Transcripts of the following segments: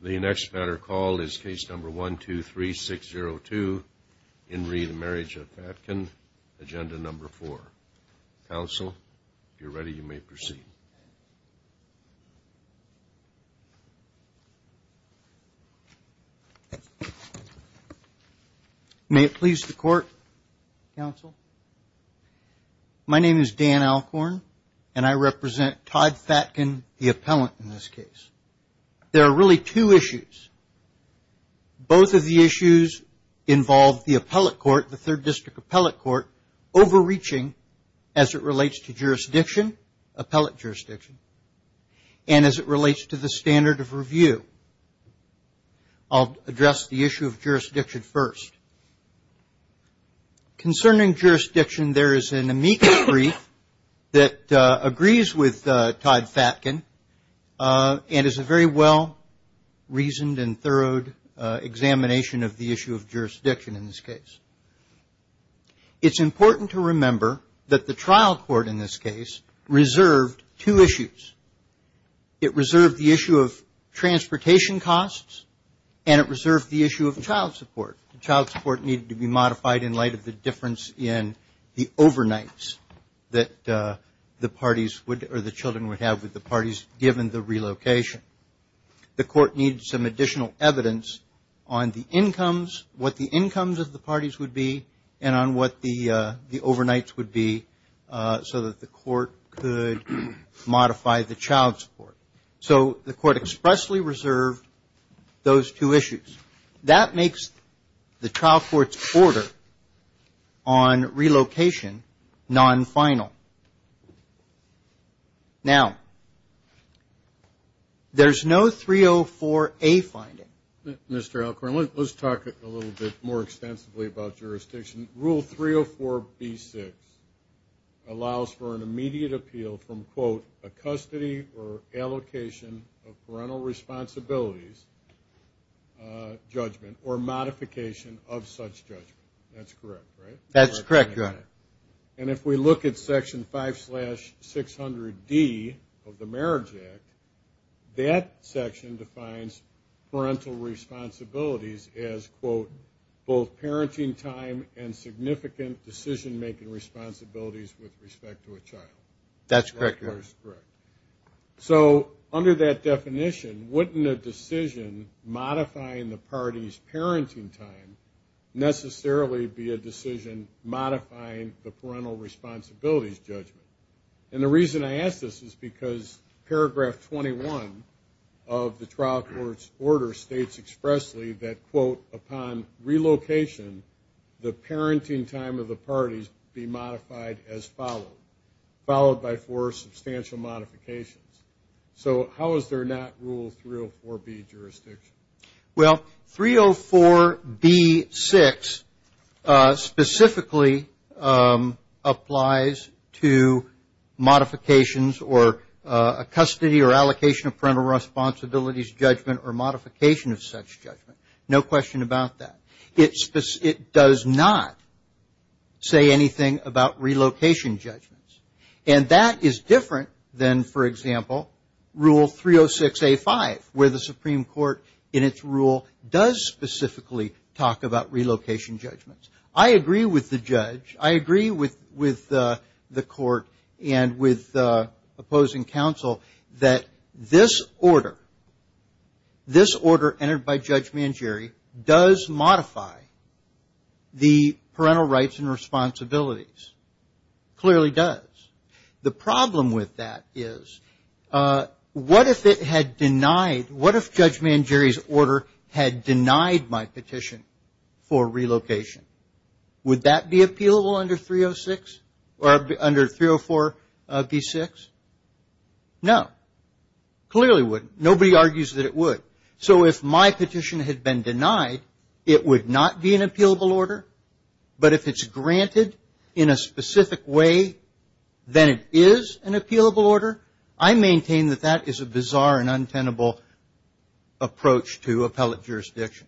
The next matter called is case number one two three six zero two in re the Marriage of Fatkin, agenda number four. Counsel, if you're ready you may proceed. May it please the court, counsel. My name is Dan Alcorn and I represent Todd Fatkin, the appellant in this case. There are really two issues. Both of the issues involve the appellate court, the third district appellate court, overreaching as it relates to jurisdiction, appellate jurisdiction, and as it relates to the standard of review. I'll address the issue of jurisdiction first. Concerning jurisdiction there is an amicus brief that agrees with Todd Fatkin and is a very well reasoned and thorough examination of the issue of jurisdiction in this case. It's important to remember that the trial court in this case reserved two issues. It reserved the issue of transportation costs and it reserved the issue of child support. Child support needed to be modified in light of the difference in the overnights that the parties would or the children would have with the parties given the relocation. The court needed some additional evidence on the incomes, what the incomes of the parties would be, and on what the overnights would be so that the court could modify the child support. So the court expressly reserved those two issues. That makes the non-relocation non-final. Now, there's no 304A finding. Mr. Alcorn, let's talk a little bit more extensively about jurisdiction. Rule 304B-6 allows for an immediate appeal from, quote, a custody or allocation of parental responsibilities judgment or modification of such judgment. That's correct, right? That's correct, Your Honor. And if we look at section 5-600D of the Marriage Act, that section defines parental responsibilities as, quote, both parenting time and significant decision-making responsibilities with respect to a child. That's correct, Your Honor. So under that definition, wouldn't a decision modifying the parties' parenting time necessarily be a decision modifying the parental responsibilities judgment? And the reason I ask this is because paragraph 21 of the trial court's order states expressly that, quote, upon relocation, the parenting time of the parties be modified as followed, followed by four substantial modifications. So how is there not rule 304B jurisdiction? Well, 304B-6 specifically applies to modifications or a custody or allocation of parental responsibilities judgment or modification of such judgment. No question about that. It does not say anything about relocation judgments. And that is different than, for example, Rule 306A-5, where the Supreme Court in its rule does specifically talk about relocation judgments. I agree with the judge. I agree with the court and with opposing counsel that this order, this order entered by Judge Mangieri, does modify the parental rights and responsibilities. Clearly does. The problem with that is what if it had denied, what if Judge Mangieri's order had denied my petition for relocation? Would that be appealable under 306 or under 304B-6? No. Clearly wouldn't. Nobody argues that it would. So if my petition had been denied, it would not be an appealable order. But if it's granted in a specific way, then it is an appealable order. I maintain that that is a bizarre and untenable approach to appellate jurisdiction.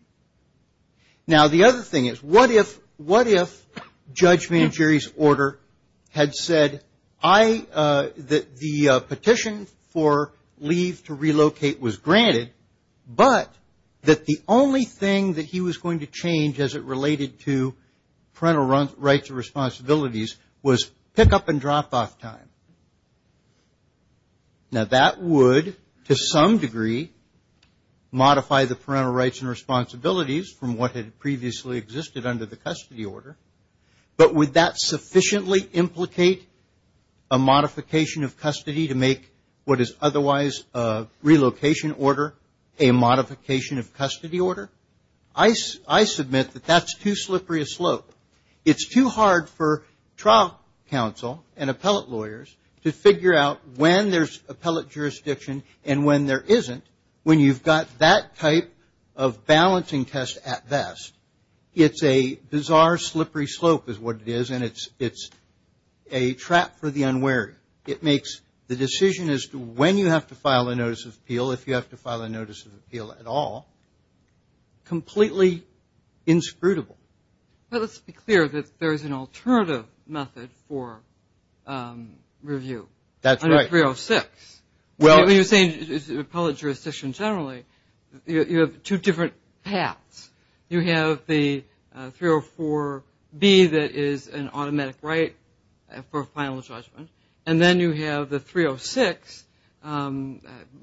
Now, the other thing is, what if Judge Mangieri's order had said that the only thing that he was going to change as it related to parental rights and responsibilities was pick-up and drop-off time? Now, that would, to some degree, modify the parental rights and responsibilities from what had previously existed under the custody order. But would that sufficiently implicate a modification of custody to make what is otherwise a relocation order a modification of custody order? I submit that that's too slippery a slope. It's too hard for trial counsel and appellate lawyers to figure out when there's appellate jurisdiction and when there isn't, when you've got that type of balancing test at best. It's a bizarre, slippery slope is what it is, and it's a trap for the unwary. It makes the decision as to when you have to file a notice of appeal, if you have to file a notice of appeal at all, completely inscrutable. But let's be clear that there is an alternative method for review. That's right. Under 306. Well, you're saying appellate jurisdiction generally, you have two different paths. You have the 304B that is an automatic right for final judgment, and then you have the 306,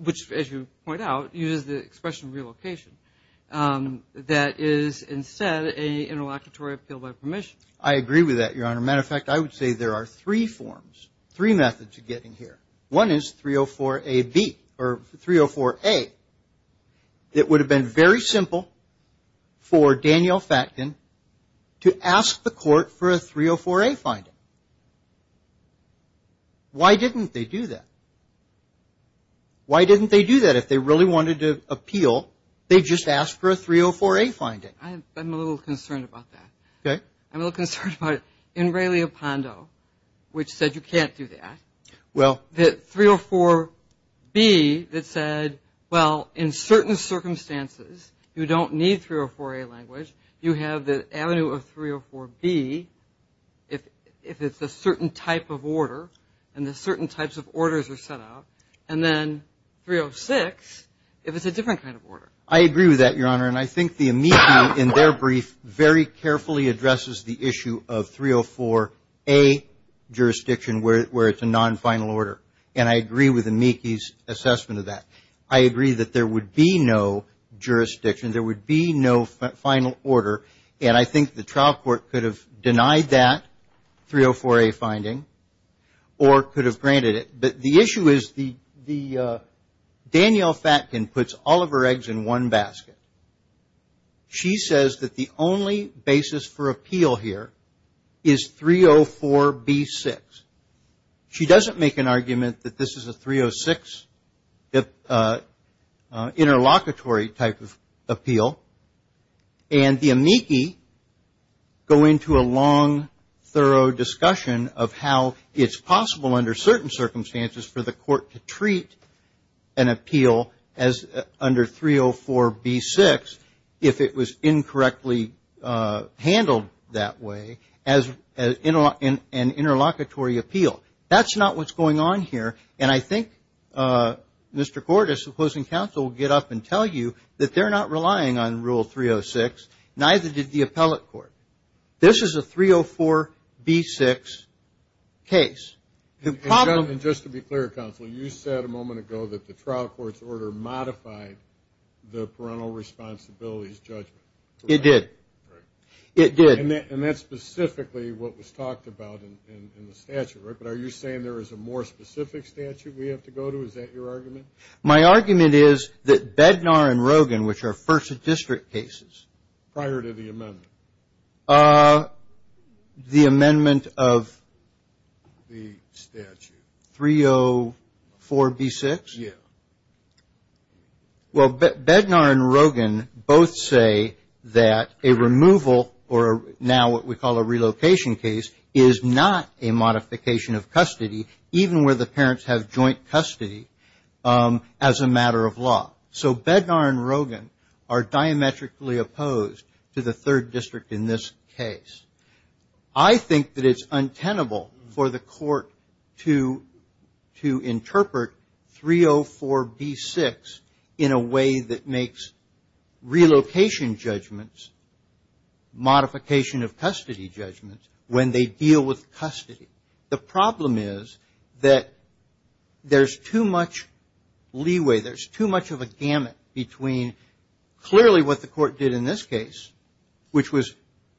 which, as you point out, uses the expression relocation, that is instead an interlocutory appeal by permission. I agree with that, Your Honor. Matter of fact, I would say there are three forms, three methods of getting here. One is 304AB or 304A. It would have been very simple for Daniel Facton to ask the court for a 304A finding. Why didn't they do that? Why didn't they do that? If they really wanted to appeal, they just asked for a 304A finding. I'm a little concerned about that. Okay. I'm a little concerned about it. which said you can't do that. Well. The 304B that said, well, in certain circumstances, you don't need 304A language. You have the avenue of 304B if it's a certain type of order and the certain types of orders are set up, and then 306 if it's a different kind of order. I agree with that, Your Honor, and I think the amici in their brief very carefully addresses the issue of 304A jurisdiction where it's a non-final order, and I agree with amici's assessment of that. I agree that there would be no jurisdiction, there would be no final order, and I think the trial court could have denied that 304A finding or could have granted it. The issue is Danielle Fatkin puts all of her eggs in one basket. She says that the only basis for appeal here is 304B6. She doesn't make an argument that this is a 306 interlocutory type of appeal, and the amici go into a long, thorough discussion of how it's possible under certain circumstances for the court to treat an appeal as under 304B6 if it was incorrectly handled that way as an interlocutory appeal. That's not what's going on here, and I think Mr. Cordes, the closing counsel, will get up and tell you that they're not relying on Rule 306, neither did the appellate court. This is a 304B6 case. And just to be clear, counsel, you said a moment ago that the trial court's order modified the parental responsibilities judgment. It did. It did. And that's specifically what was talked about in the statute, right? But are you saying there is a more specific statute we have to go to? Is that your argument? My argument is that Bednar and Rogin, which are first district cases. Prior to the amendment. The amendment of? The statute. 304B6? Yeah. Well, Bednar and Rogin both say that a removal, or now what we call a relocation case, is not a modification of custody, even where the parents have joint custody as a matter of law. So Bednar and Rogin are diametrically opposed to the third district in this case. I think that it's untenable for the court to interpret 304B6 in a way that makes relocation judgments, modification of custody judgments, when they deal with custody. The problem is that there's too much leeway, there's too much of a gamut between clearly what the court did in this case, which was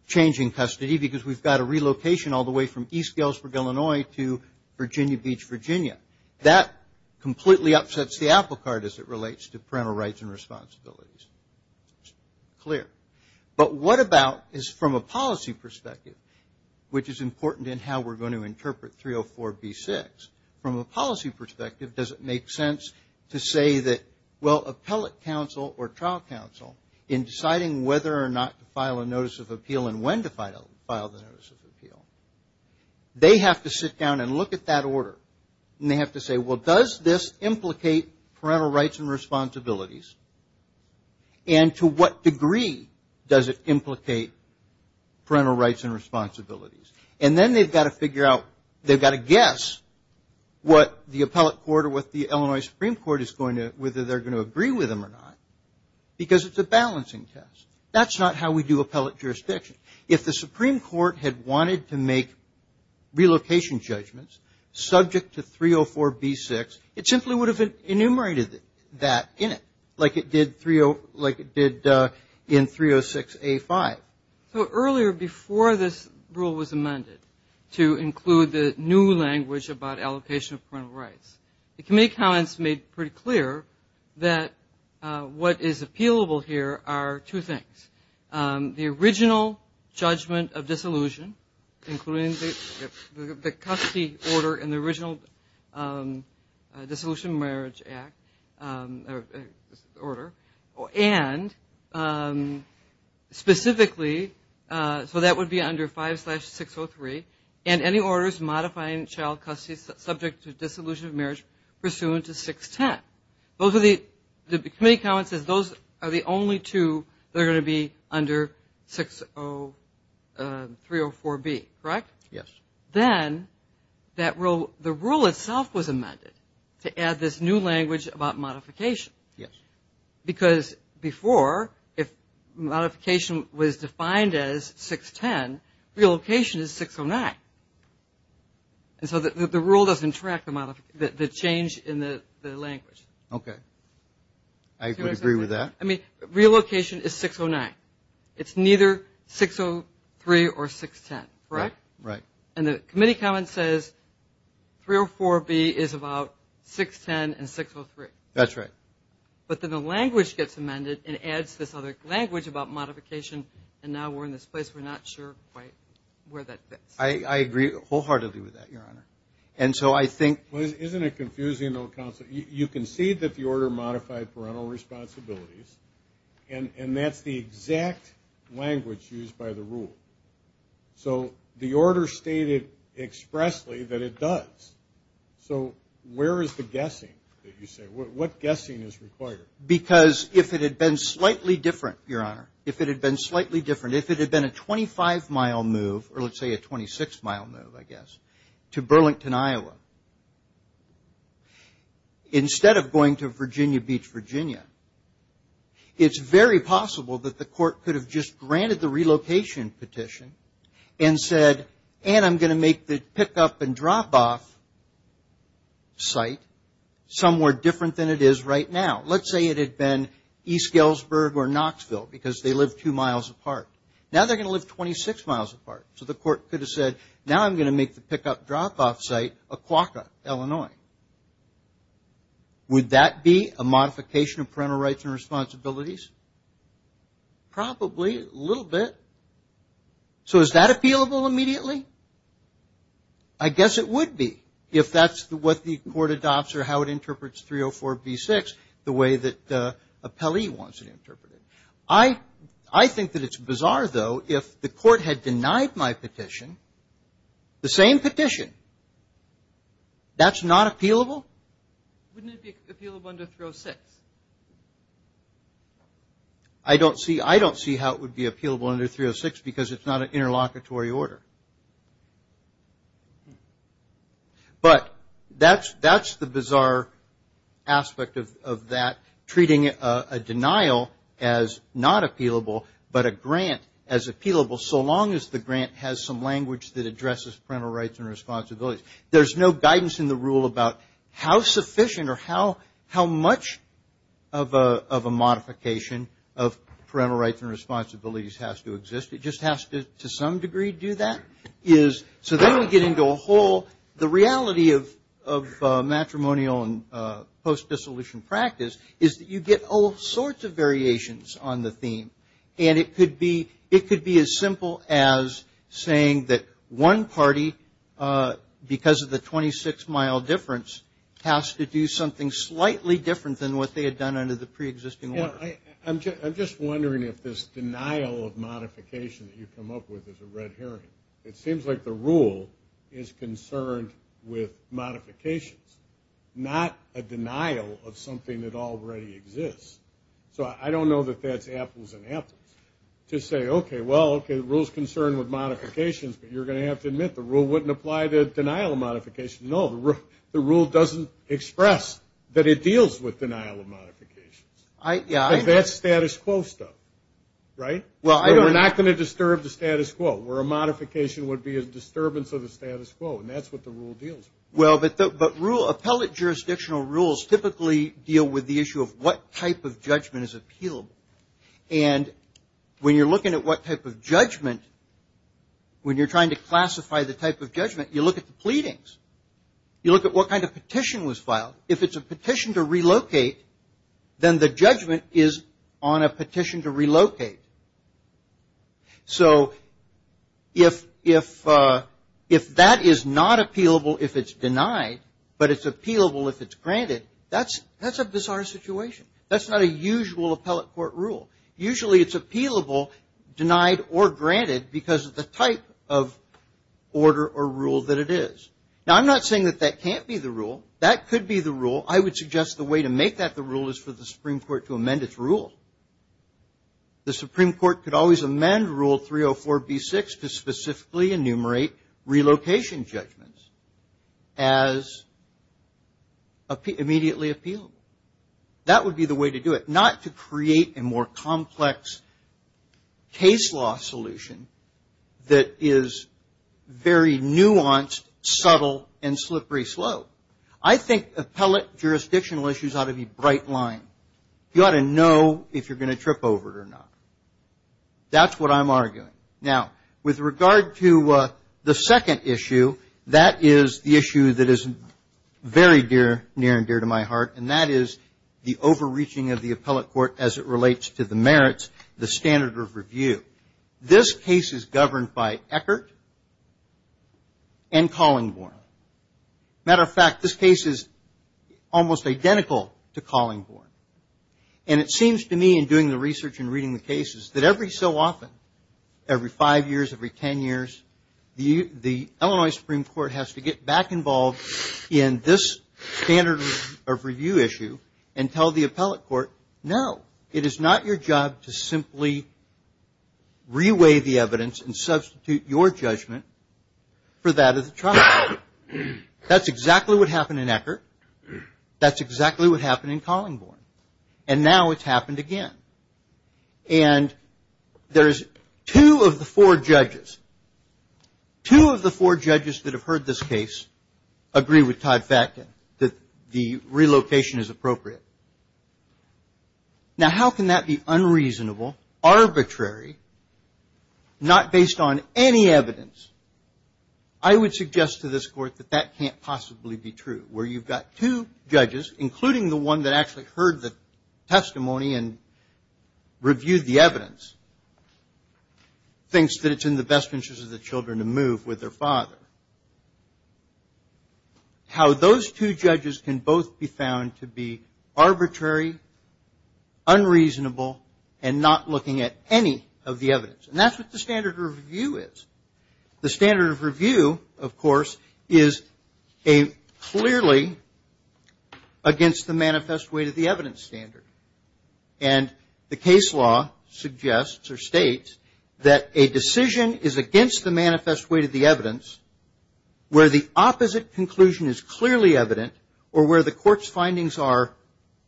changing custody because we've got a relocation all the way from East Galesburg, Illinois to Virginia Beach, Virginia. That completely upsets the apple cart as it relates to parental rights and responsibilities. But what about, from a policy perspective, which is important in how we're going to interpret 304B6, from a policy perspective, does it make sense to say that, well, appellate counsel or trial counsel, in deciding whether or not to file a notice of appeal and when to file the notice of appeal, they have to sit down and look at that order. And they have to say, well, does this implicate parental rights and responsibilities? And to what degree does it implicate parental rights and responsibilities? And then they've got to figure out, they've got to guess what the appellate court or what the Illinois Supreme Court is going to, whether they're going to agree with them or not, because it's a balancing test. That's not how we do appellate jurisdiction. If the Supreme Court had wanted to make relocation judgments subject to 304B6, it simply would have enumerated that in it, like it did in 306A5. So earlier, before this rule was amended to include the new language about allocation of parental rights, the committee comments made pretty clear that what is appealable here are two things. The original judgment of disillusion, including the custody order and the original Dissolution of Marriage Act order, and specifically, so that would be under 5-603, and any orders modifying child custody subject to dissolution of marriage pursuant to 610. The committee comment says those are the only two that are going to be under 304B, correct? Yes. Then the rule itself was amended to add this new language about modification. Yes. Because before, if modification was defined as 610, relocation is 609. And so the rule doesn't track the change in the language. Okay. I would agree with that. Relocation is 609. It's neither 603 or 610, correct? Right. And the committee comment says 304B is about 610 and 603. That's right. But then the language gets amended and adds this other language about modification, and now we're in this place where we're not sure quite where that fits. I agree wholeheartedly with that, Your Honor. And that's the exact language used by the rule. So the order stated expressly that it does. So where is the guessing that you say? What guessing is required? Because if it had been slightly different, Your Honor, if it had been a 25-mile move, or let's say a 26-mile move, I guess, to Burlington, Iowa, instead of going to Virginia Beach, Virginia, it's very possible that the court could have just granted the relocation petition and said, and I'm going to make the pickup and drop-off site somewhere different than it is right now. Let's say it had been East Galesburg or Knoxville, because they live two miles apart. Now they're going to live 26 miles apart. So the court could have said, now I'm going to make the pickup drop-off site a Quokka, Illinois. Would that be a modification of parental rights and responsibilities? Probably, a little bit. So is that appealable immediately? I guess it would be, if that's what the court adopts or how it interprets 304b6, the way that an appellee wants it interpreted. I think that it's bizarre, though, if the court had denied my petition, the same petition, that's not appealable? Wouldn't it be appealable under 306? I don't see how it would be appealable under 306, because it's not an interlocutory order. But that's the bizarre aspect of that, treating a denial as not appealable, but a grant as appealable, so long as the grant has some language that addresses parental rights and responsibilities. There's no guidance in the rule about how sufficient or how much of a modification of parental rights and responsibilities has to exist. It just has to, to some degree, do that. So then we get into a whole, the reality of matrimonial and post-dissolution practice is that you get all sorts of variations on the theme. It could be as simple as saying that one party, because of the 26-mile difference, has to do something slightly different than what they had done under the preexisting order. I'm just wondering if this denial of modification that you come up with is a red herring. It seems like the rule is concerned with modifications, not a denial of something that already exists. So I don't know that that's apples and apples, to say, okay, well, okay, the rule's concerned with modifications, but you're going to have to admit the rule wouldn't apply to denial of modification. No, the rule doesn't express that it deals with denial of modifications. That's status quo stuff, right? We're not going to disturb the status quo, where a modification would be a disturbance of the status quo, and that's what the rule deals with. Well, but appellate jurisdictional rules typically deal with the issue of what type of judgment is appealable. And when you're looking at what type of judgment, when you're trying to classify the type of judgment, you look at the pleadings. You look at what kind of petition was filed. If it's a petition to relocate, then the judgment is on a petition to relocate. So if that is not appealable if it's denied, but it's appealable if it's granted, that's a bizarre situation. That's not a usual appellate court rule. Usually it's appealable denied or granted because of the type of order or rule that it is. Now, I'm not saying that that can't be the rule. That could be the rule. I would suggest the way to make that the rule is for the Supreme Court to amend its rule. The Supreme Court could always amend Rule 304B6 to specifically enumerate relocation judgments as immediately appealable. That would be the way to do it, not to create a more complex case law solution that is very nuanced, subtle, and slippery slow. I think appellate jurisdictional issues ought to be bright line. You ought to know if you're going to trip over it or not. That's what I'm arguing. Now, with regard to the second issue, that is the issue that is very near and dear to my heart, and that is the overreaching of the appellate court as it relates to the merits, the standard of review. This case is governed by Eckert and Collingborn. Matter of fact, this case is almost identical to Collingborn. And it seems to me in doing the research and reading the cases that every so often, every five years, every ten years, the Illinois Supreme Court has to get back involved in this standard of review issue and tell the appellate court, no, it is not your job to simply reweigh the evidence and substitute your judgment for that of the trial. That's exactly what happened in Eckert. That's exactly what happened in Collingborn. And now it's happened again. And there's two of the four judges that have heard this case agree with Todd Fatkin that the relocation is appropriate. Not based on any evidence. I would suggest to this court that that can't possibly be true, where you've got two judges, including the one that actually heard the testimony and reviewed the evidence, thinks that it's in the best interest of the children to move with their father. How those two judges can both be found to be arbitrary, unreasonable, and not looking at any of the evidence. And that's what the standard of review is. The standard of review, of course, is a clearly against the manifest weight of the evidence standard. And the case law suggests or states that a decision is against the manifest weight of the evidence where the opposite conclusion is clearly evident or where the court's findings are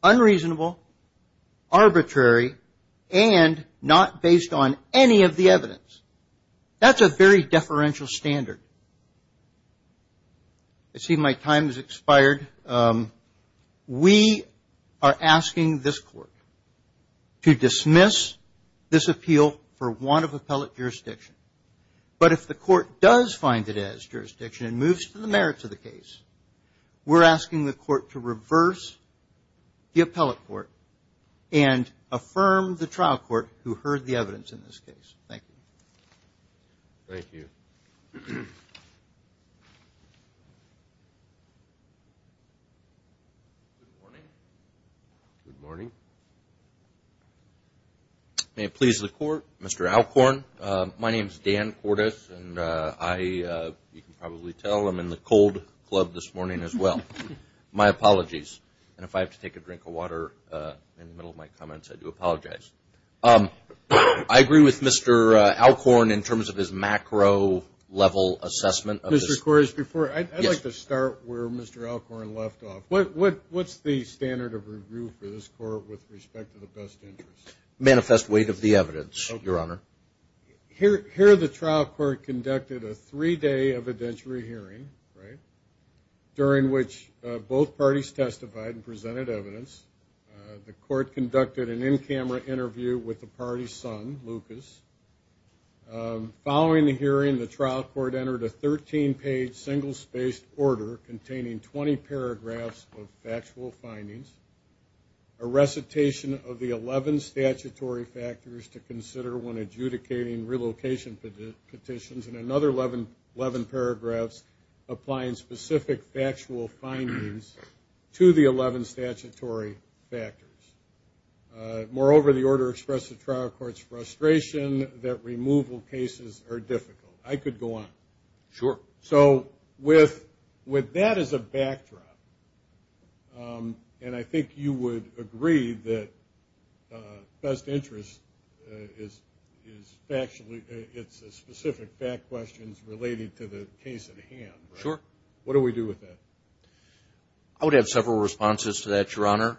unreasonable, arbitrary, and not based on any of the evidence. That's a very deferential standard. I see my time has expired. We are asking this court to dismiss this appeal for want of appellate jurisdiction. But if the court does find it as jurisdiction and moves to the merits of the case, we're asking the court to reverse the appellate court and affirm the trial court who heard the evidence in this case. Thank you. Good morning. May it please the court, Mr. Alcorn. My name is Dan Cordes, and I, you can probably tell, I'm in the cold club this morning as well. My apologies. And if I have to take a drink of water in the middle of my comments, I do apologize. I agree with Mr. Alcorn in terms of his macro level assessment. Mr. Cordes, before, I'd like to start where Mr. Alcorn left off. What's the standard of review for this court with respect to the best interest? Manifest weight of the evidence, Your Honor. Here the trial court conducted a three-day evidentiary hearing, right, during which both parties testified and presented evidence. The court conducted an in-camera interview with the party's son, Lucas. Following the hearing, the trial court entered a 13-page single-spaced order containing 20 paragraphs of factual findings, a recitation of the 11 statutory factors to consider when adjudicating relocation petitions, and another 11 paragraphs applying specific factual findings to the 11 statutory factors. Moreover, the order expressed the trial court's frustration that removal cases are difficult. I could go on. Sure. So with that as a backdrop, and I think you would agree that best interest is factually, it's specific fact questions related to the case at hand, right? I would have several responses to that, Your Honor.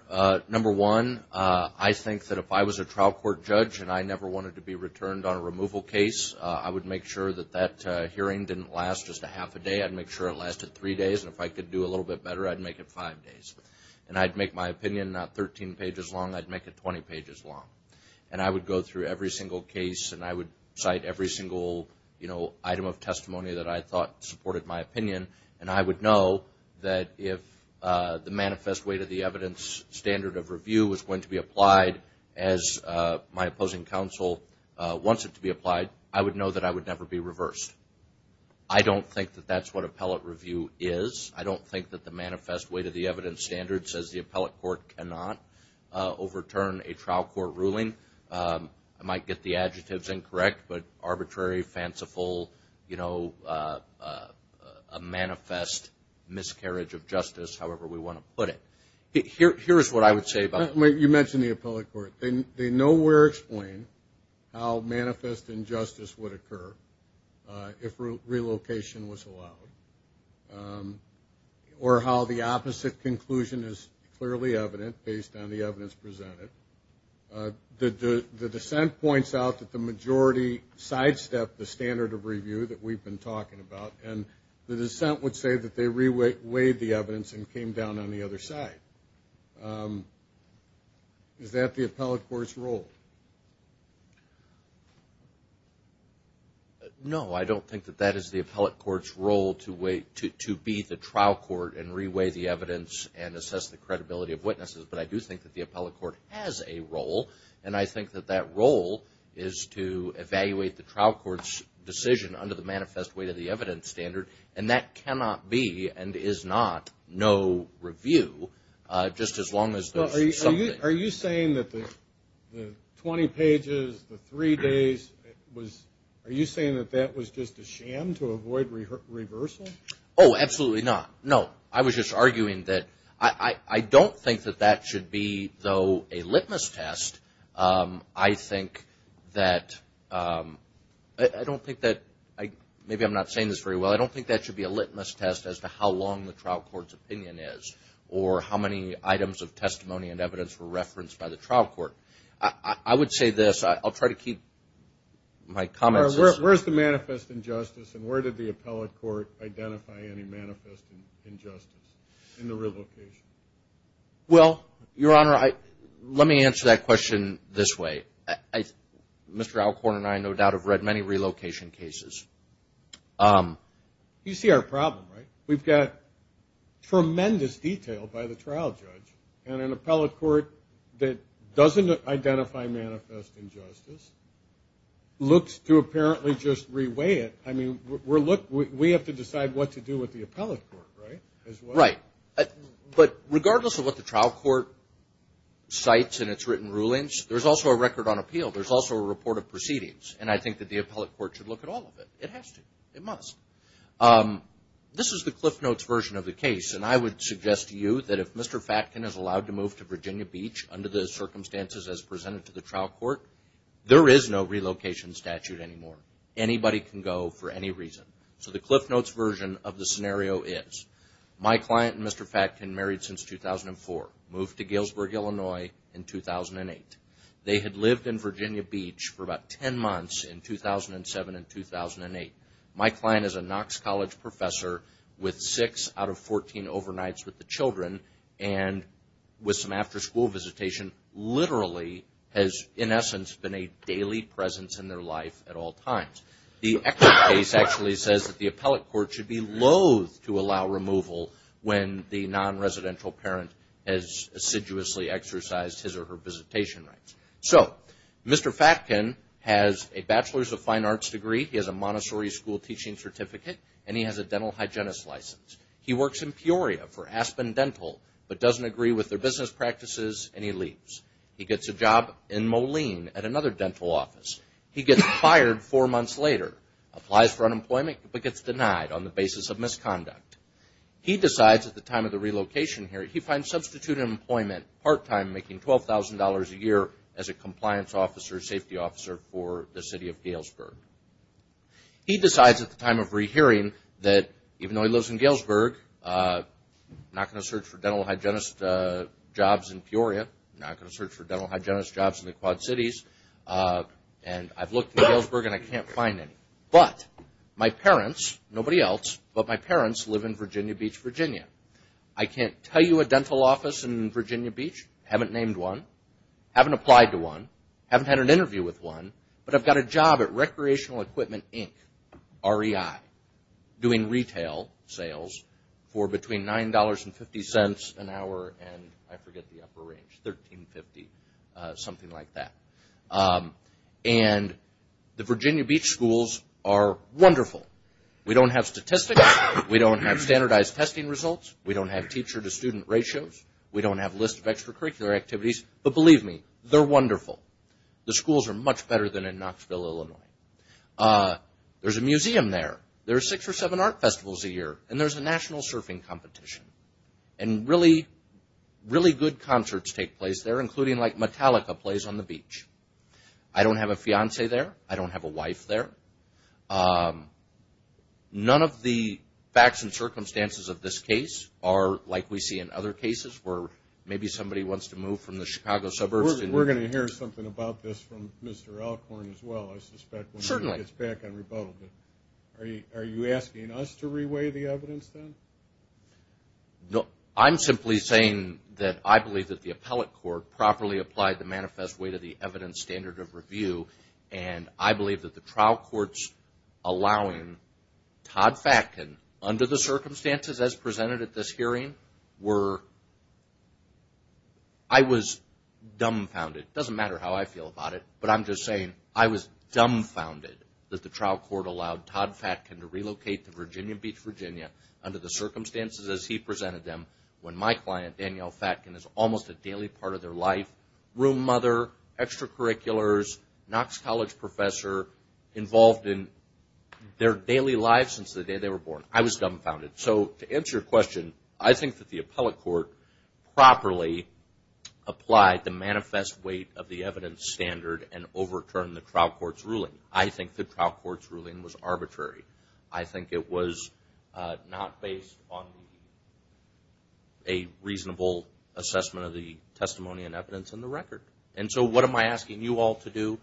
Number one, I think that if I was a trial court judge and I never wanted to be returned on a removal case, I would make sure that that hearing didn't last just a half a day. I'd make sure it lasted three days, and if I could do a little bit better, I'd make it five days. And I'd make my opinion not 13 pages long, I'd make it 20 pages long. And I would go through every single case, and I would cite every single item of testimony that I thought supported my opinion. And I would know that if the manifest weight of the evidence standard of review was going to be applied as my opposing counsel wants it to be applied, I would know that I would never be reversed. I don't think that that's what appellate review is. I don't think that the manifest weight of the evidence standard says the appellate court cannot overturn a trial court ruling. I might get the adjectives incorrect, but arbitrary, fanciful, a manifest miscarriage of justice, however we want to put it. Here's what I would say about it. You mentioned the appellate court. They nowhere explain how manifest injustice would occur if relocation was allowed, or how the opposite conclusion is clearly evident based on the evidence presented. The dissent points out that the majority sidestepped the standard of review that we've been talking about, and the dissent would say that they reweighed the evidence and came down on the other side. Is that the appellate court's role? No, I don't think that that is the appellate court's role to be the trial court and reweigh the evidence and assess the credibility of witnesses, but I do think that the appellate court has a role, and I think that that role is to evaluate the trial court's decision under the manifest weight of the evidence standard, and that cannot be and is not no review, just as long as there's something. Are you saying that the 20 pages, the three days, are you saying that that was just a sham to avoid reversal? Oh, absolutely not. No, I was just arguing that I don't think that that should be, though, a litmus test. I think that, I don't think that, maybe I'm not saying this very well, but I don't think that should be a litmus test as to how long the trial court's opinion is or how many items of testimony and evidence were referenced by the trial court. I would say this. I'll try to keep my comments as... Where's the manifest injustice, and where did the appellate court identify any manifest injustice in the relocation? Well, Your Honor, let me answer that question this way. Mr. Alcorn and I, no doubt, have read many relocation cases. You see our problem, right? We've got tremendous detail by the trial judge, and an appellate court that doesn't identify manifest injustice looks to apparently just re-weigh it. I mean, we have to decide what to do with the appellate court, right? Right, but regardless of what the trial court cites in its written rulings, there's also a record on appeal. There's also a report of proceedings, and I think that the appellate court should look at all of it. It has to. It must. This is the Cliff Notes version of the case, and I would suggest to you that if Mr. Fatkin is allowed to move to Virginia Beach under the circumstances as presented to the trial court, there is no relocation statute anymore. Anybody can go for any reason. So the Cliff Notes version of the scenario is, my client and Mr. Fatkin married since 2004, moved to Galesburg, Illinois in 2008. They had lived in Virginia Beach for about 10 months in 2007 and 2008. My client is a Knox College professor with 6 out of 14 overnights with the children, and with some after-school visitation literally has, in essence, been a daily presence in their life at all times. The Eckert case actually says that the appellate court should be loath to allow removal when the non-residential parent has assiduously exercised his or her visitation rights. So, Mr. Fatkin has a Bachelor's of Fine Arts degree. He has a Montessori School teaching certificate, and he has a dental hygienist license. He works in Peoria for Aspen Dental, but doesn't agree with their business practices, and he leaves. He gets a job in Moline at another dental office. He gets fired four months later, applies for unemployment, but gets denied on the basis of misconduct. He decides at the time of the relocation hearing, he finds substitute employment part-time, making $12,000 a year as a compliance officer, safety officer for the city of Galesburg. He decides at the time of re-hearing that even though he lives in Galesburg, not going to search for dental hygienist jobs in Peoria, not going to search for dental hygienist jobs in the Quad Cities, and I've looked in Galesburg and I can't find any, but my parents, nobody else, but my parents live in Virginia Beach, Virginia. I can't tell you a dental office in Virginia Beach. I haven't named one, haven't applied to one, haven't had an interview with one, but I've got a job at Recreational Equipment Inc., REI, doing retail sales for between $9.50 an hour and I forget the upper range, $13.50, something like that. And the Virginia Beach schools are wonderful. We don't have statistics, we don't have standardized testing results, we don't have teacher to student ratios, we don't have lists of extracurricular activities, but believe me, they're wonderful. The schools are much better than in Knoxville, Illinois. There's a museum there, there are six or seven art festivals a year, and there's a national surfing competition. And really, really good concerts take place there, including like Metallica plays on the beach. I don't have a fiance there, I don't have a wife there. None of the facts and circumstances of this case are like we see in other cases where maybe somebody wants to move from the Chicago suburbs. We're going to hear something about this from Mr. Alcorn as well, I suspect, when he gets back on rebuttal. Are you asking us to reweigh the evidence then? No, I'm simply saying that I believe that the appellate court properly applied the manifest way to the evidence standard of review, and I believe that the trial courts allowing Todd Fatkin under the circumstances as presented at this hearing were... I was dumbfounded, it doesn't matter how I feel about it, but I'm just saying I was dumbfounded that the trial court allowed Todd Fatkin to relocate to Virginia Beach, Virginia under the circumstances as he presented them when my client, Danielle Fatkin, is almost a daily part of their life, room mother, extracurriculars, Knox College professor, involved in their daily lives since the day they were born. I was dumbfounded. So to answer your question, I think that the appellate court properly applied the manifest weight of the evidence standard and overturned the trial court's ruling. I think the trial court's ruling was arbitrary. I think it was not based on a reasonable assessment of the testimony and evidence in the record. So what am I asking you all to do?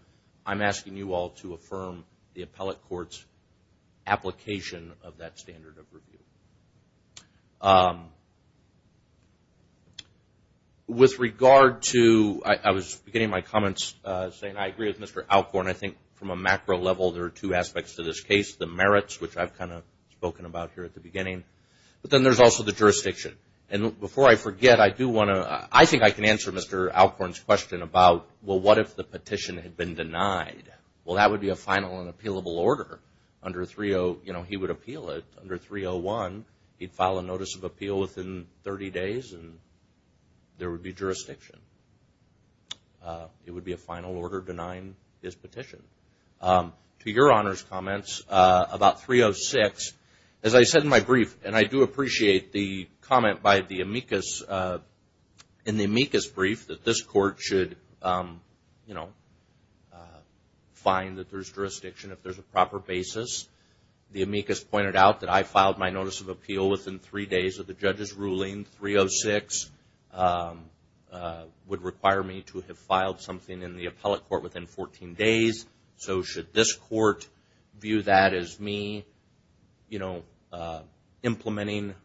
I'm asking you all to affirm the appellate court's application of that standard of review. With regard to... I was beginning my comments saying I agree with Mr. Alcorn. I think from a macro level there are two aspects to this case. The merits, which I've kind of spoken about here at the beginning, but then there's also the jurisdiction. Before I forget, I do want to... I think I can answer Mr. Alcorn's question about, well, what if the petition had been denied? Well, that would be a final and appealable order. Under 301, he would appeal it. Under 301, he'd file a notice of appeal within 30 days and there would be jurisdiction. It would be a final order denying his petition. To your Honor's comments about 306, as I said in my brief, and I do appreciate the comment by the amicus, in the amicus brief that this court should find that there's jurisdiction if there's a proper basis. The amicus pointed out that I filed my notice of appeal within three days of the judge's ruling. 306 would require me to have filed something in the appellate court within 14 days. So should this court view that as me implementing,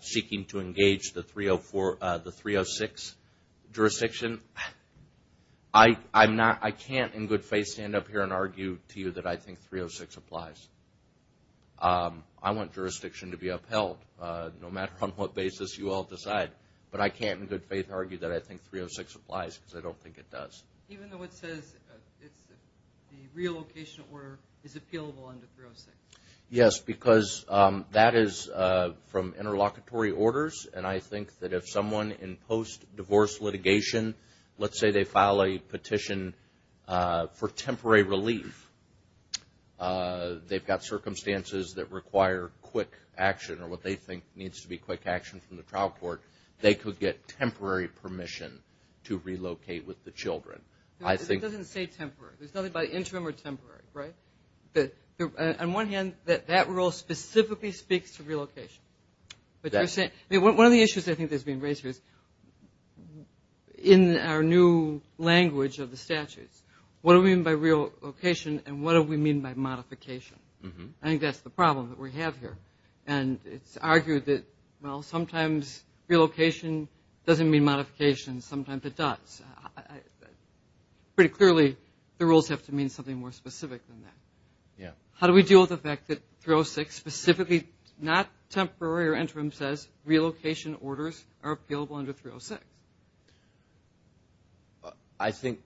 seeking to engage the 306 jurisdiction, I can't in good faith stand up here and argue to you that I think 306 applies. I want jurisdiction to be upheld no matter on what basis you all decide. But I can't in good faith argue that I think 306 applies because I don't think it does. Even though it says the relocation order is appealable under 306. Yes, because that is from interlocutory orders and I think that if someone in post-divorce litigation, let's say they file a petition for temporary relief, they've got circumstances that require quick action or what they think needs to be quick action from the court. On one hand, that rule specifically speaks to relocation. One of the issues I think that's being raised here is in our new language of the statutes, what do we mean by relocation and what do we mean by modification? I think that's the problem that we have here. And it's argued that sometimes relocation doesn't mean modification, sometimes it does. Pretty clearly the rules have to mean something more specific than that. How do we deal with the fact that 306 specifically, not temporary or interim, says relocation orders are appealable under 306? I think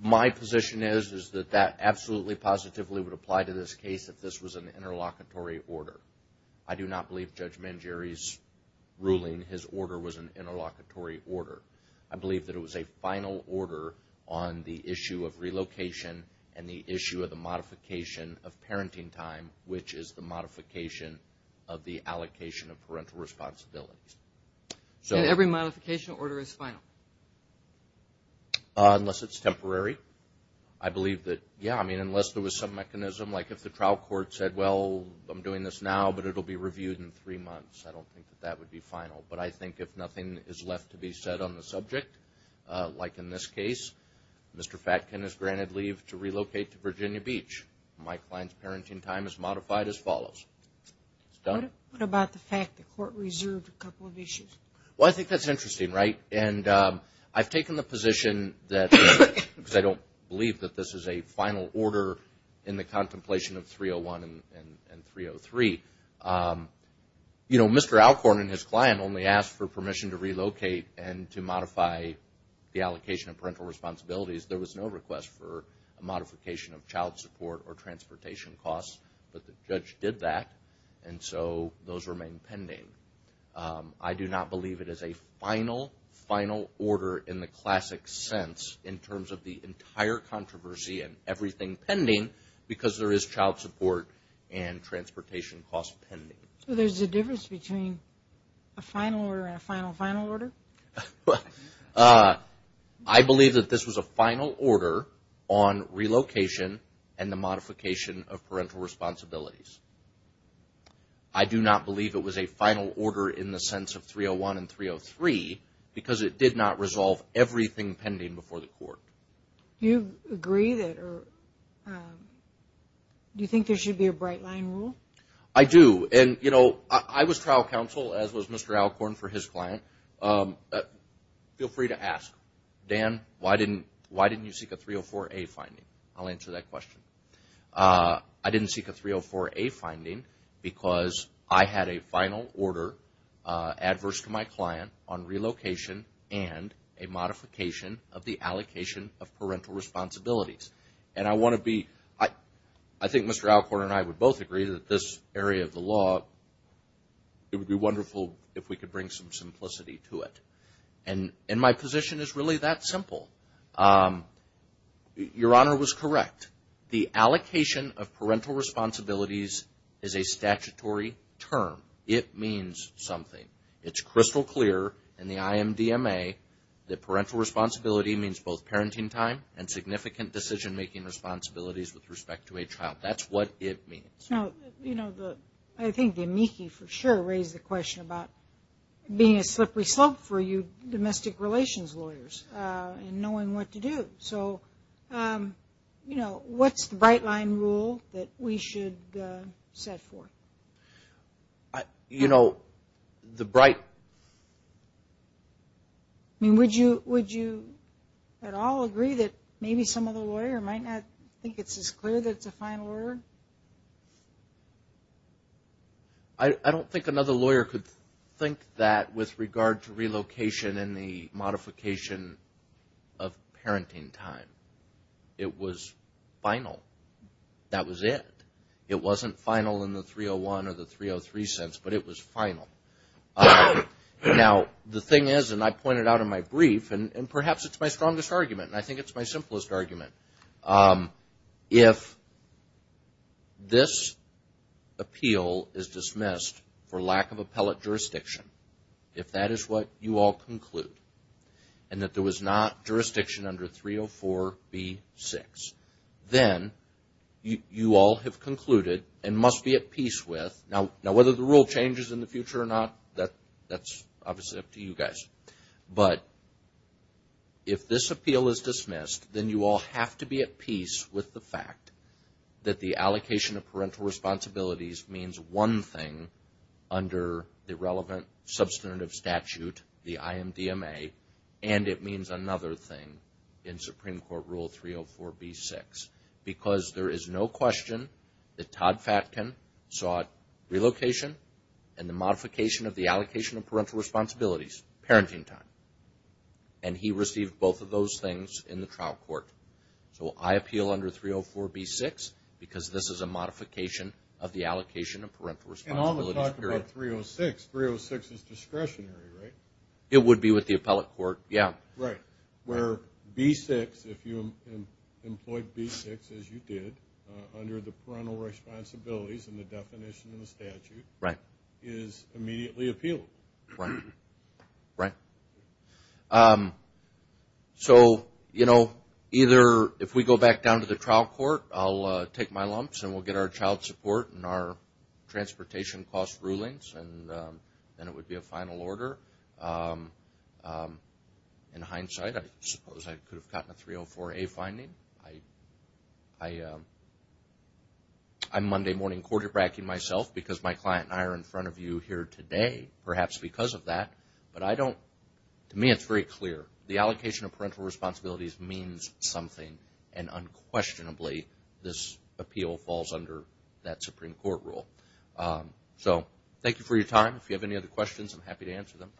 my position is that that absolutely positively would apply to this case if this was an interlocutory order. I do not believe Judge Mangieri's ruling his order was an interlocutory order. I believe that it was a final order on the issue of relocation and the issue of the modification of parenting time, which is the modification of the allocation of parental responsibilities. And every modification order is final? Unless it's temporary. Unless there was some mechanism, like if the trial court said, well, I'm doing this now, but it will be reviewed in three months. I don't think that would be final. But I think if nothing is left to be said on the subject, like in this case, Mr. Fatkin is granted leave to relocate to Virginia Beach. What about the fact that court reserved a couple of issues? Well, I think that's interesting, right? I've taken the position that, because I don't believe that this is a final order in the contemplation of 301 and 303. Mr. Alcorn and his client only asked for permission to relocate and to modify the allocation of parental responsibilities. There was no request for that, and so those remain pending. I do not believe it is a final, final order in the classic sense, in terms of the entire controversy and everything pending, because there is child support and transportation costs pending. So there's a difference between a final order and a final, final order? I believe that this was a final order on relocation and the modification of parental responsibilities. I do not believe it was a final order in the sense of 301 and 303, because it did not resolve everything pending before the court. Do you agree that, or do you think there should be a bright line rule? I do. And, you know, I was trial counsel, as was Mr. Alcorn for his client. Feel free to ask. Dan, why didn't you seek a 304A finding? I'll answer that question. I didn't seek a 304A finding because I had a final order adverse to my client on relocation and a modification of the allocation of parental responsibilities. I think Mr. Alcorn and I would both agree that this area of the law, it would be wonderful if we could bring some simplicity to it. And my position is really that simple. Your Honor was correct. The allocation of parental responsibilities is a statutory term. It means something. It's crystal clear in the IMDMA that parental responsibility means both parenting time and significant decision-making responsibilities with respect to a child. That's what it means. I think the amici for sure raised the question about being a slippery slope for you domestic relations lawyers and knowing what to do. What's the bright line rule that we should set forth? You know, the bright... Would you at all agree that maybe some other lawyer might not think it's as clear that it's a final order? I don't think another lawyer could think that with regard to relocation and the modification of parenting time. It was final. That was it. It wasn't final in the 301 or the 303 sense, but it was final. Now, the thing is, and I pointed out in my brief, and perhaps it's my strongest argument, and I think it's my simplest argument. If this appeal is dismissed for lack of appellate jurisdiction, if that is what you all conclude, and that there was not jurisdiction under 304B6, then you all have concluded and must be at peace with... Now, whether the rule changes in the future or not, that's obviously up to you guys. But if this appeal is dismissed, then you all have to be at peace with the fact that the allocation of parental responsibilities means one thing under the relevant substantive statute, the IMDMA, and it means another thing in Supreme Court Rule 304B6. Because there is no question that Todd Fatkin sought relocation and the modification of the allocation of parental responsibilities, parenting time. And he received both of those things in the trial court. So I appeal under 304B6 because this is a modification of the allocation of parental responsibilities. And all the talk about 306. 306 is discretionary, right? It would be with the appellate court, yeah. Where B6, if you employed B6, as you did, under the parental responsibilities and the definition of the statute, is immediately appealable. Right. So, you know, if we go back down to the trial court, I'll take my lumps and we'll get our child support and our transportation cost rulings and then it would be a final order. In hindsight, I suppose I could have gotten a 304A finding. I'm Monday morning quarterbacking myself because my client and I are in front of you here today, perhaps because of that. To me it's very clear. The allocation of parental responsibilities means something and unquestionably this appeal falls under that Supreme Court Rule. So, thank you for your time. If you have any other questions, I'm happy to answer them.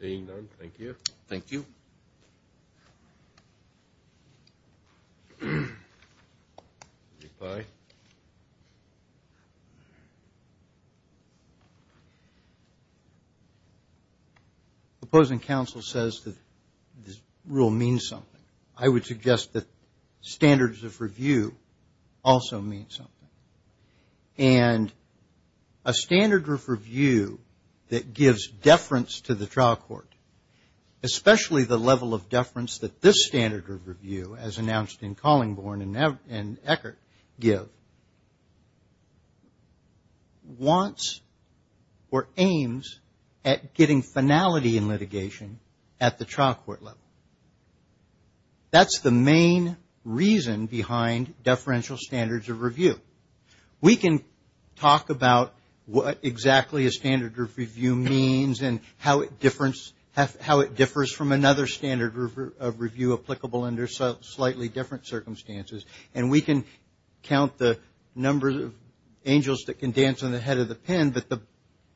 Seeing none, thank you. Opposing counsel says that this rule means something. I would suggest that standards of review also mean something. And a standard of review that gives deference to the trial court, especially the level of deference that this standard of review, as announced in Collingborn and Eckert, give, wants or aims at getting finality in litigation at the trial court level. That's the main reason behind deferential standards of review. We can talk about what exactly a standard of review means and how it differs from another standard of review applicable under slightly different circumstances. And we can count the number of angels that can dance on the head of the pen, but the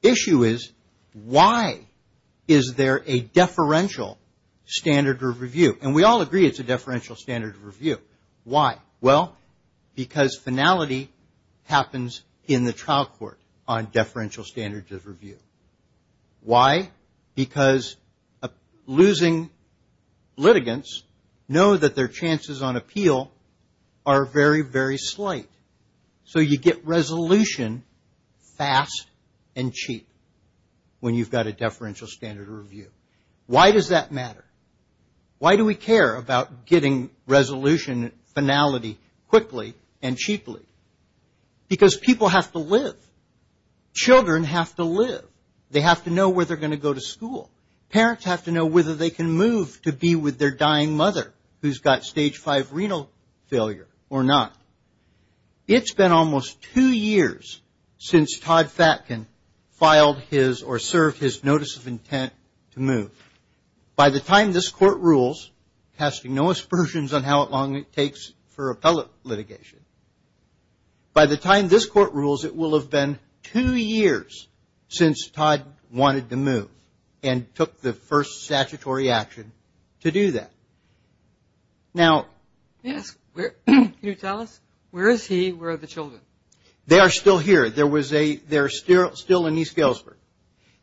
issue is why is there a deferential standard of review? And we all agree it's a deferential standard of review. Why? Well, because finality happens in the trial court on deferential standards of review. Why? Because losing litigants know that their chances on appeal are very, very slight. So you get resolution fast and cheap when you've got a deferential standard of review. Why does that matter? Why do we care about getting resolution finality quickly and cheaply? Because people have to live. Children have to live. They have to know where they're going to go to school. Parents have to know whether they can move to be with their dying mother who's got stage five renal failure or not. It's been almost two years since Todd Fatkin filed his or served his notice of intent to move. By the time this court rules, casting no aspersions on how long it takes for appellate litigation, by the time this court rules, it will have been two years since Todd wanted to move and took the first statutory action to do that. Now, can you tell us where is he? Where are the children? They are still here. They're still in East Galesburg.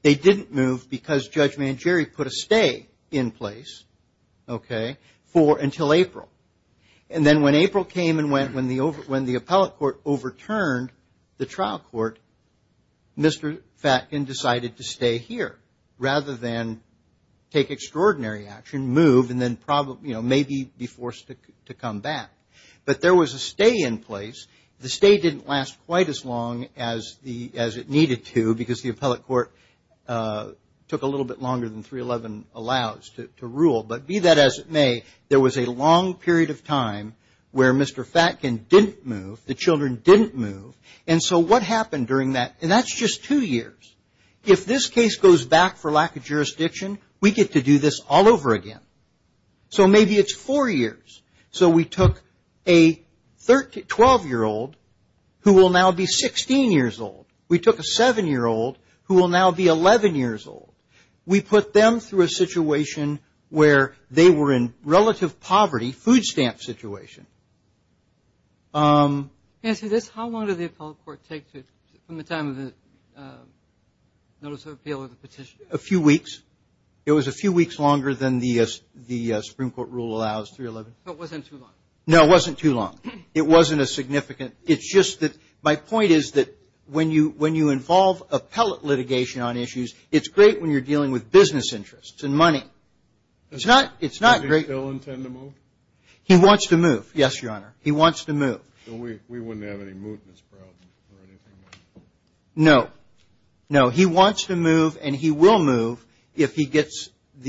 They didn't move because Judge Mangieri put a stay in place, okay, until April. And then when April came and went, when the appellate court overturned the trial court, Mr. Fatkin decided to stay here rather than take extraordinary action, move, and then maybe be forced to come back. But there was a stay in place. The stay didn't last quite as long as it needed to because the appellate court took a little bit longer than 311 allows to rule. But be that as it may, there was a long period of time where Mr. Fatkin didn't move. The children didn't move. And so what happened during that? And that's just two years. If this case goes back for lack of jurisdiction, we get to do this all over again. So maybe it's four years. So we took a 12-year-old who will now be 16 years old. We took a 7-year-old who will now be 11 years old. We put them through a situation where they were in relative poverty, food stamp situation. Answer this. How long did the appellate court take from the time of the notice of appeal or the petition? A few weeks. It was a few weeks longer than the Supreme Court rule allows, 311. So it wasn't too long. No, it wasn't too long. It wasn't a significant. It's just that my point is that when you involve appellate litigation on issues, it's great when you're dealing with business interests and money. It's not great. Does he still intend to move? He wants to move. Yes, Your Honor. He wants to move. So we wouldn't have any movements problems or anything like that? No. No. He wants to move and he will move if he wants to.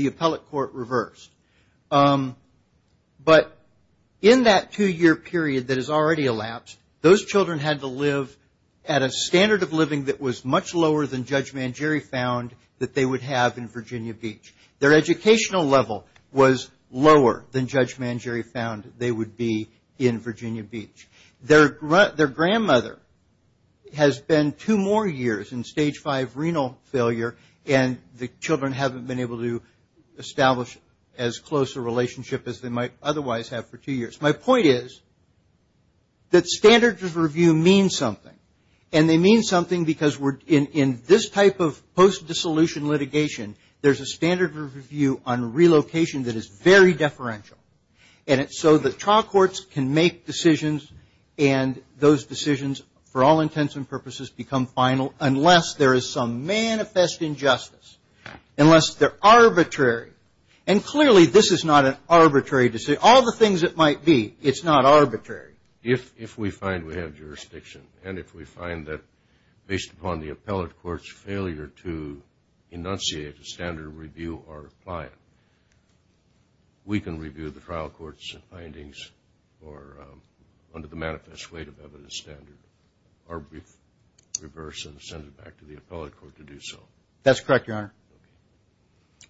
That standards of review mean something. And they mean something because in this type of post-dissolution litigation, there's a standard of review on relocation that is very deferential. And so the trial courts can make decisions and those decisions, for all intents and purposes, become final unless there is some manifest injustice. Unless they're arbitrary. And clearly this is not an arbitrary. If we find we have jurisdiction and if we find that based upon the appellate court's failure to enunciate a standard of review or apply it, we can review the trial court's findings under the manifest weight of evidence standard or reverse and send it back to the appellate court to do so. That's correct, Your Honor.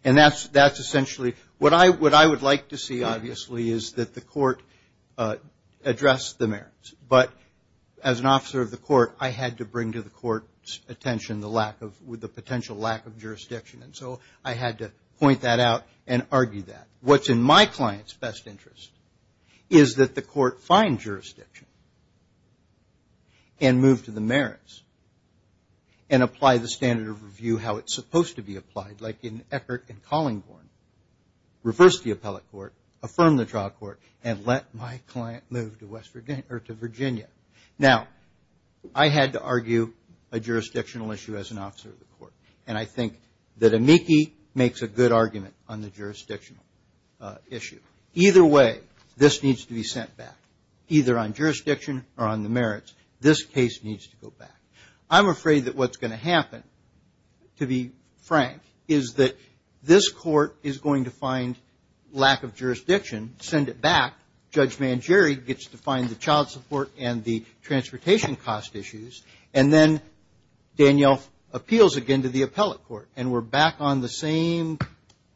And that's essentially what I would like to see, obviously, is that the court address the merits. But as an officer of the court, I had to bring to the court's attention the lack of, the potential lack of jurisdiction. And so I had to point that out and argue that. What's in my client's best interest is that the court find jurisdiction and move to the merits and apply the standard of review how it's supposed to be applied, like in Eckert and Collingborn. Reverse the appellate court, affirm the trial court, and let my client move to Virginia. Now, I had to argue a jurisdictional issue as an officer of the court. And I think that Amici makes a good argument on the jurisdictional issue. Either way, this needs to be sent back. Either on jurisdiction or on the merits, this case needs to go back. I'm afraid that what's happening is that this court is going to find lack of jurisdiction, send it back. Judge Mangieri gets to find the child support and the transportation cost issues. And then Danielle appeals again to the appellate court. And we're back on the same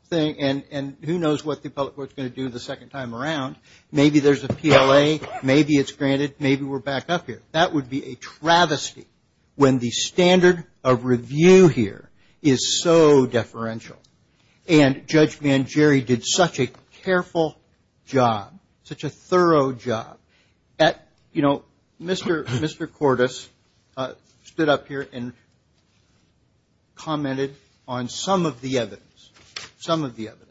thing. And who knows what the appellate court's going to do the second time around. Maybe there's a PLA. Maybe it's granted. Maybe we're back up here. That would be a travesty when the standard of review here is so deferential. And Judge Mangieri did such a careful job, such a thorough job that, you know, Mr. Cordes stood up here and commented on some of the evidence, some of the evidence.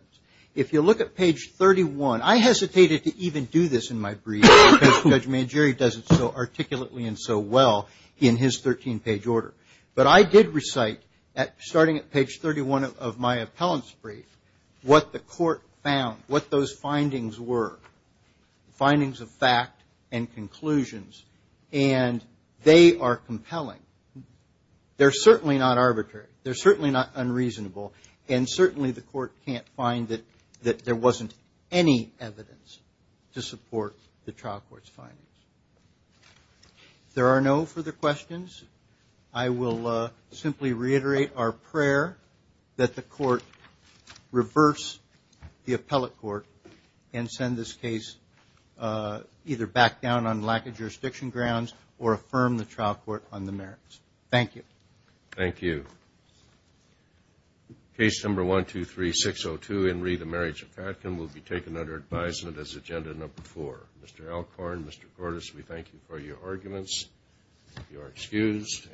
If you look at page 31, I hesitated to even do this in my brief because Judge Mangieri does it so articulately and so well in his 13-page order. But I did recite, starting at page 31 of my appellant's brief, what the court found, what those findings were, findings of fact and conclusions. And they are compelling. They're certainly not arbitrary. They're certainly not unreasonable. And certainly the court can't find that there wasn't any evidence to support the trial court's findings. If there are no further questions, I will simply reiterate our prayer that the court reverse the appellate court and send this case either back down on lack of jurisdiction grounds or affirm the trial court on the merits. Thank you. Thank you. Case number 123-602, Enri, the marriage of Katkin, will be taken under advisement as agenda number four. Mr. Alcorn, Mr. Cordes, we thank you for your arguments. You are excused.